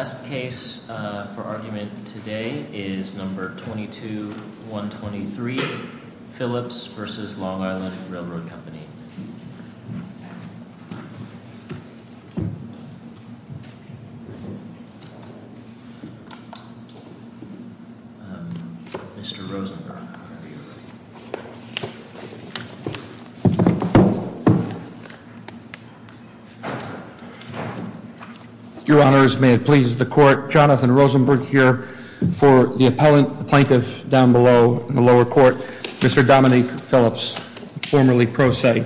The last case for argument today is number 22-123, Phillips v. Long Island Railroad Company. Mr. Rosenberg. Your honors, may it please the court, Jonathan Rosenberg here for the appellant, the plaintiff down below in the lower court, Mr. Dominique Phillips, formerly pro se.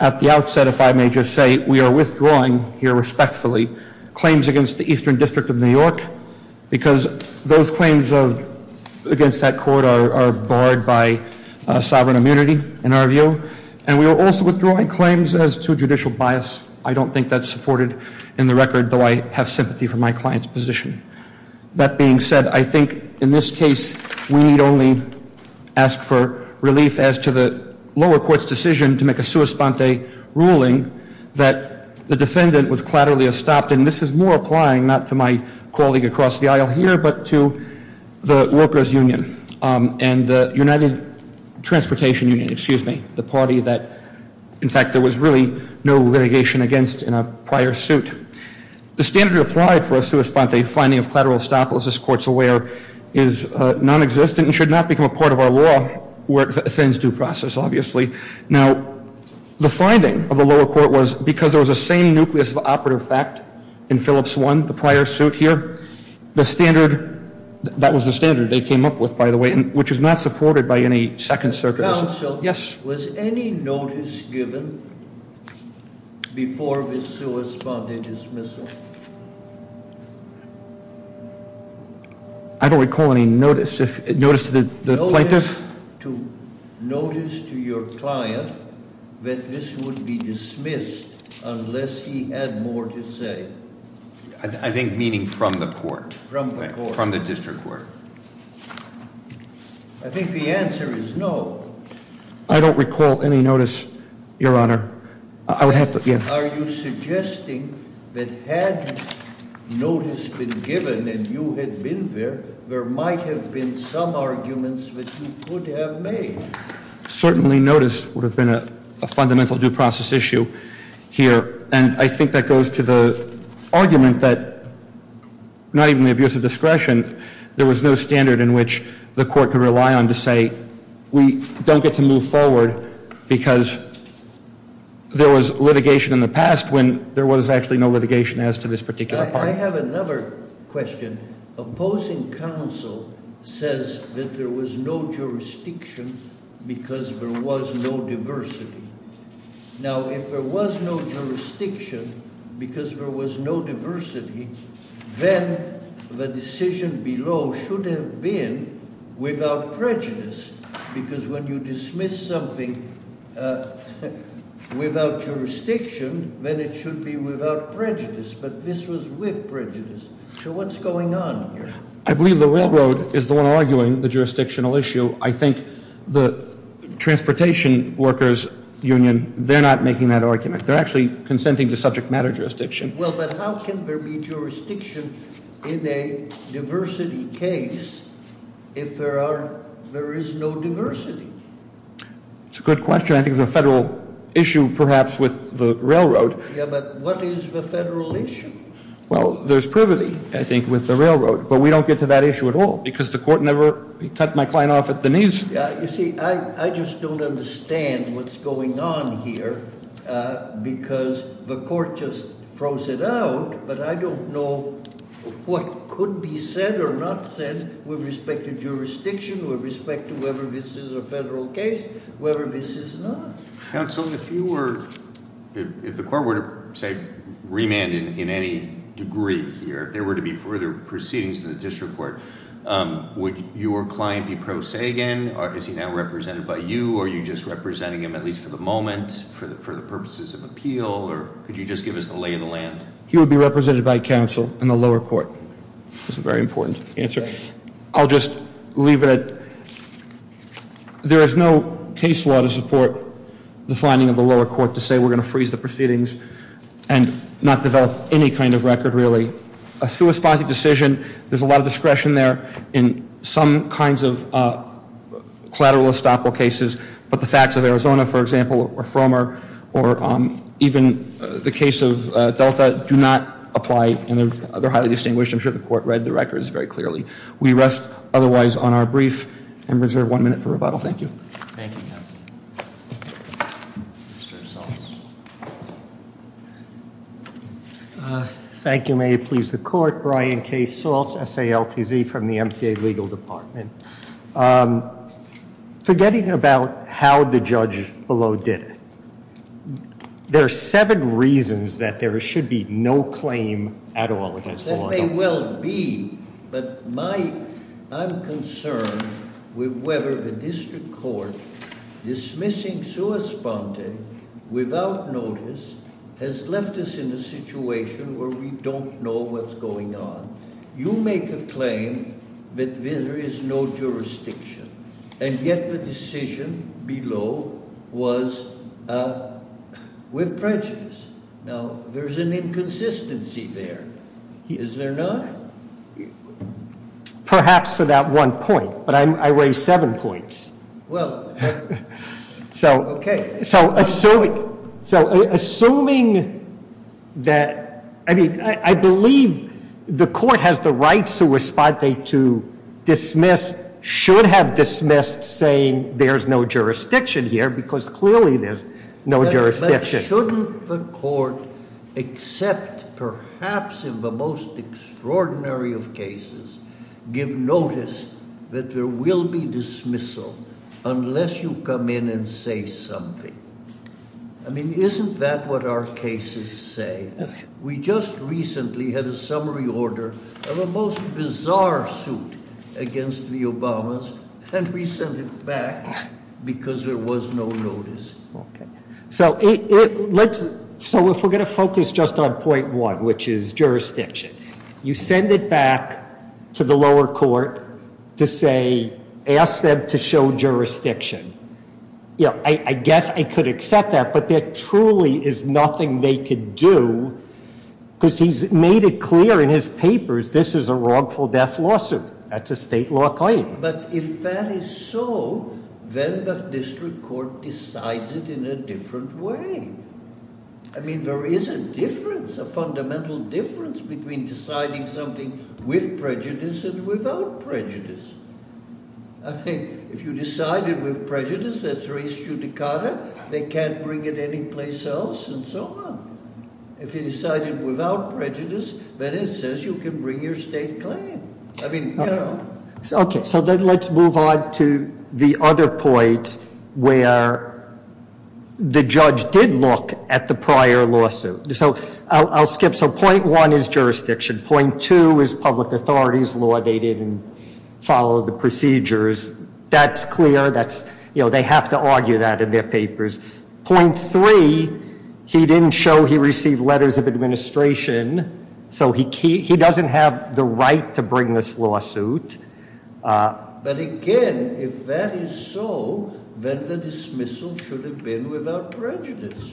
At the outset, if I may just say, we are withdrawing here respectfully claims against the Eastern District of New York because those claims against that court are barred by sovereign immunity, in our view. And we are also withdrawing claims as to judicial bias. I don't think that's supported in the record, though I have sympathy for my client's position. That being said, I think in this case, we need only ask for relief as to the lower court's decision to make a sua sponte ruling that the defendant was clatterly estopped, and this is more applying not to my colleague across the aisle here, but to the Workers Union and the United Transportation Union, excuse me, the party that in fact there was really no litigation against in a prior suit. The standard applied for a sua sponte finding of clatteral estoppel, as this court's aware, is nonexistent and should not become a part of our law where it offends due process, obviously. Now, the finding of the lower court was because there was a same nucleus of operative fact in Phillips 1, the prior suit here, the standard, that was the standard they came up with, by the way, which is not supported by any Second Circuit. Counsel, was any notice given before the sua sponte dismissal? I don't recall any notice. Notice to the plaintiff? Notice to your client that this would be dismissed unless he had more to say. I think meaning from the court. From the court. From the district court. I think the answer is no. I don't recall any notice, Your Honor. Are you suggesting that had notice been given and you had been there, there might have been some arguments that you could have made? Certainly notice would have been a fundamental due process issue here. And I think that goes to the argument that not even the abuse of discretion, there was no standard in which the court could rely on to say we don't get to move forward because there was litigation in the past when there was actually no litigation as to this particular part. I have another question. Opposing counsel says that there was no jurisdiction because there was no diversity. Now, if there was no jurisdiction because there was no diversity, then the decision below should have been without prejudice. Because when you dismiss something without jurisdiction, then it should be without prejudice. But this was with prejudice. So what's going on here? I believe the railroad is the one arguing the jurisdictional issue. I think the transportation workers union, they're not making that argument. They're actually consenting to subject matter jurisdiction. Well, but how can there be jurisdiction in a diversity case if there is no diversity? It's a good question. I think it's a federal issue perhaps with the railroad. Yeah, but what is the federal issue? Well, there's privity, I think, with the railroad. But we don't get to that issue at all because the court never cut my client off at the knees. Yeah, you see, I just don't understand what's going on here because the court just throws it out. But I don't know what could be said or not said with respect to jurisdiction, with respect to whether this is a federal case, whether this is not. Counsel, if you were, if the court were to say remand in any degree here, if there were to be further proceedings in the district court, would your client be pro se again? Is he now represented by you, or are you just representing him at least for the moment for the purposes of appeal? Or could you just give us the lay of the land? He would be represented by counsel in the lower court. That's a very important answer. I'll just leave it at that. There is no case law to support the finding of the lower court to say we're going to freeze the proceedings and not develop any kind of record, really. A suicide decision, there's a lot of discretion there in some kinds of collateral estoppel cases, but the facts of Arizona, for example, or Frommer, or even the case of Delta do not apply, and they're highly distinguished. I'm sure the court read the records very clearly. We rest otherwise on our brief and reserve one minute for rebuttal. Thank you. Thank you, counsel. Mr. Salts. Thank you. May it please the court. Brian K. Salts, S-A-L-T-Z, from the MTA Legal Department. Forgetting about how the judge below did it, there are seven reasons that there should be no claim at all against the law. That may well be, but I'm concerned with whether the district court dismissing a correspondent without notice has left us in a situation where we don't know what's going on. You make a claim that there is no jurisdiction, and yet the decision below was with prejudice. Now, there's an inconsistency there. Is there not? Perhaps for that one point, but I raised seven points. Well, okay. So assuming that, I mean, I believe the court has the right to dismiss, should have dismissed saying there's no jurisdiction here because clearly there's no jurisdiction. But shouldn't the court accept perhaps in the most extraordinary of cases give notice that there will be dismissal unless you come in and say something? I mean, isn't that what our cases say? We just recently had a summary order of a most bizarre suit against the Obamas, and we sent it back because there was no notice. Okay. So if we're going to focus just on point one, which is jurisdiction, you send it back to the lower court to say ask them to show jurisdiction. I guess I could accept that, but there truly is nothing they could do because he's made it clear in his papers this is a wrongful death lawsuit. That's a state law claim. But if that is so, then the district court decides it in a different way. I mean, there is a difference, a fundamental difference, between deciding something with prejudice and without prejudice. If you decide it with prejudice, that's res judicata. They can't bring it anyplace else and so on. If you decide it without prejudice, then it says you can bring your state claim. Okay. So let's move on to the other point where the judge did look at the prior lawsuit. So I'll skip. So point one is jurisdiction. Point two is public authorities law. They didn't follow the procedures. That's clear. They have to argue that in their papers. Point three, he didn't show he received letters of administration, so he doesn't have the right to bring this lawsuit. But again, if that is so, then the dismissal should have been without prejudice.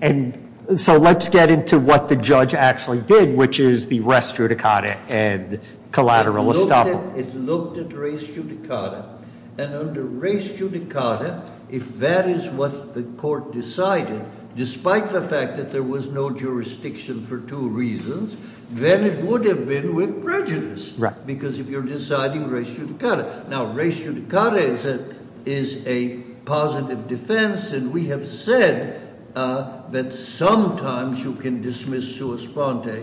And so let's get into what the judge actually did, which is the res judicata and collateral estoppel. It looked at res judicata. And under res judicata, if that is what the court decided, despite the fact that there was no jurisdiction for two reasons, then it would have been with prejudice because if you're deciding res judicata. Now, res judicata is a positive defense, and we have said that sometimes you can dismiss sua sponte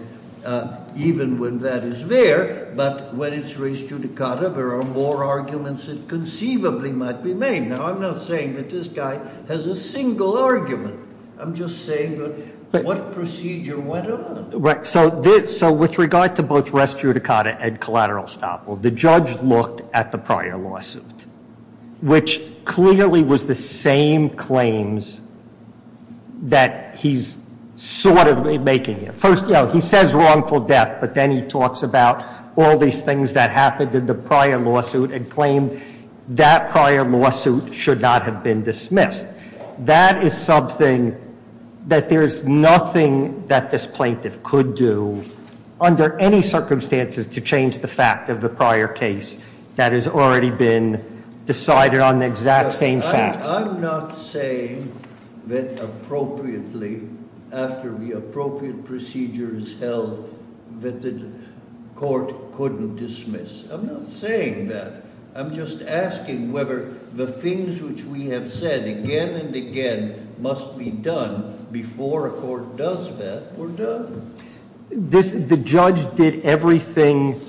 even when that is there. But when it's res judicata, there are more arguments that conceivably might be made. Now, I'm not saying that this guy has a single argument. I'm just saying that what procedure went on. So with regard to both res judicata and collateral estoppel, the judge looked at the prior lawsuit, which clearly was the same claims that he's sort of making here. First, he says wrongful death, but then he talks about all these things that happened in the prior lawsuit and claimed that prior lawsuit should not have been dismissed. That is something that there is nothing that this plaintiff could do under any circumstances to change the fact of the prior case that has already been decided on the exact same facts. I'm not saying that appropriately, after the appropriate procedure is held, that the court couldn't dismiss. I'm not saying that. I'm just asking whether the things which we have said again and again must be done before a court does that were done. The judge did everything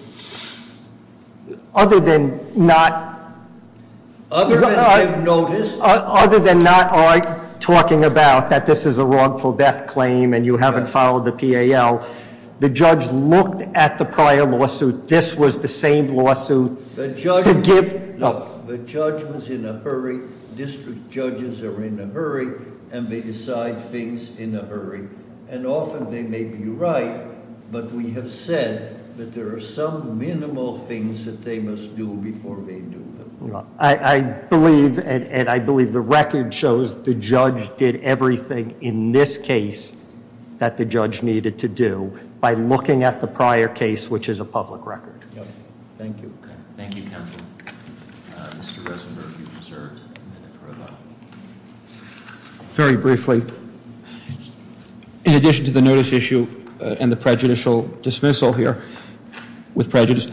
other than not- Other than I've noticed. Other than not talking about that this is a wrongful death claim and you haven't followed the PAL. The judge looked at the prior lawsuit. This was the same lawsuit to give- The judge was in a hurry. District judges are in a hurry and they decide things in a hurry. Often they may be right, but we have said that there are some minimal things that they must do before they do them. I believe, and I believe the record shows, the judge did everything in this case that the judge needed to do by looking at the prior case, which is a public record. Thank you. Thank you, counsel. Mr. Rosenberg, you've been served. Very briefly, in addition to the notice issue and the prejudicial dismissal here, with prejudice,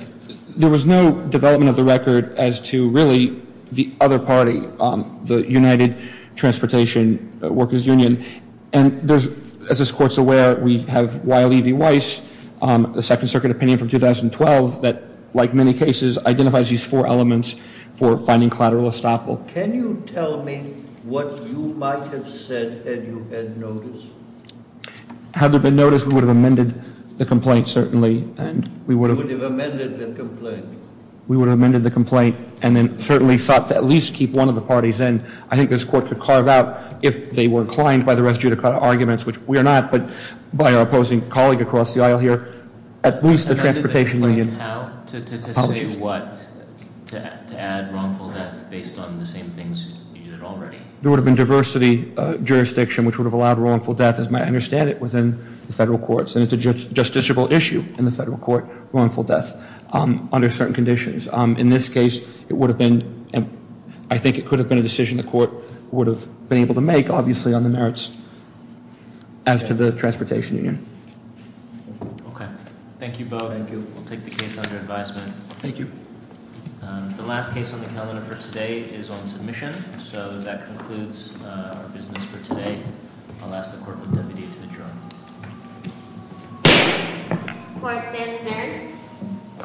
there was no development of the record as to really the other party, the United Transportation Workers Union. As this Court's aware, we have Wiley v. Weiss, the Second Circuit opinion from 2012, that, like many cases, identifies these four elements for finding collateral estoppel. Can you tell me what you might have said had you had notice? Had there been notice, we would have amended the complaint, certainly. You would have amended the complaint? We would have amended the complaint and then certainly thought to at least keep one of the parties in. I think this Court could carve out, if they were inclined by the residue to cut arguments, which we are not, but by our opposing colleague across the aisle here, at least the Transportation Union. How to say what to add wrongful death based on the same things you did already? There would have been diversity jurisdiction, which would have allowed wrongful death, as I understand it, within the federal courts, and it's a justiciable issue in the federal court, wrongful death, under certain conditions. In this case, I think it could have been a decision the Court would have been able to make, obviously, on the merits as to the Transportation Union. Okay. Thank you both. Thank you. We'll take the case under advisement. Thank you. The last case on the calendar for today is on submission, so that concludes our business for today. I'll ask the Court of Deputies to adjourn. The Court stands adjourned.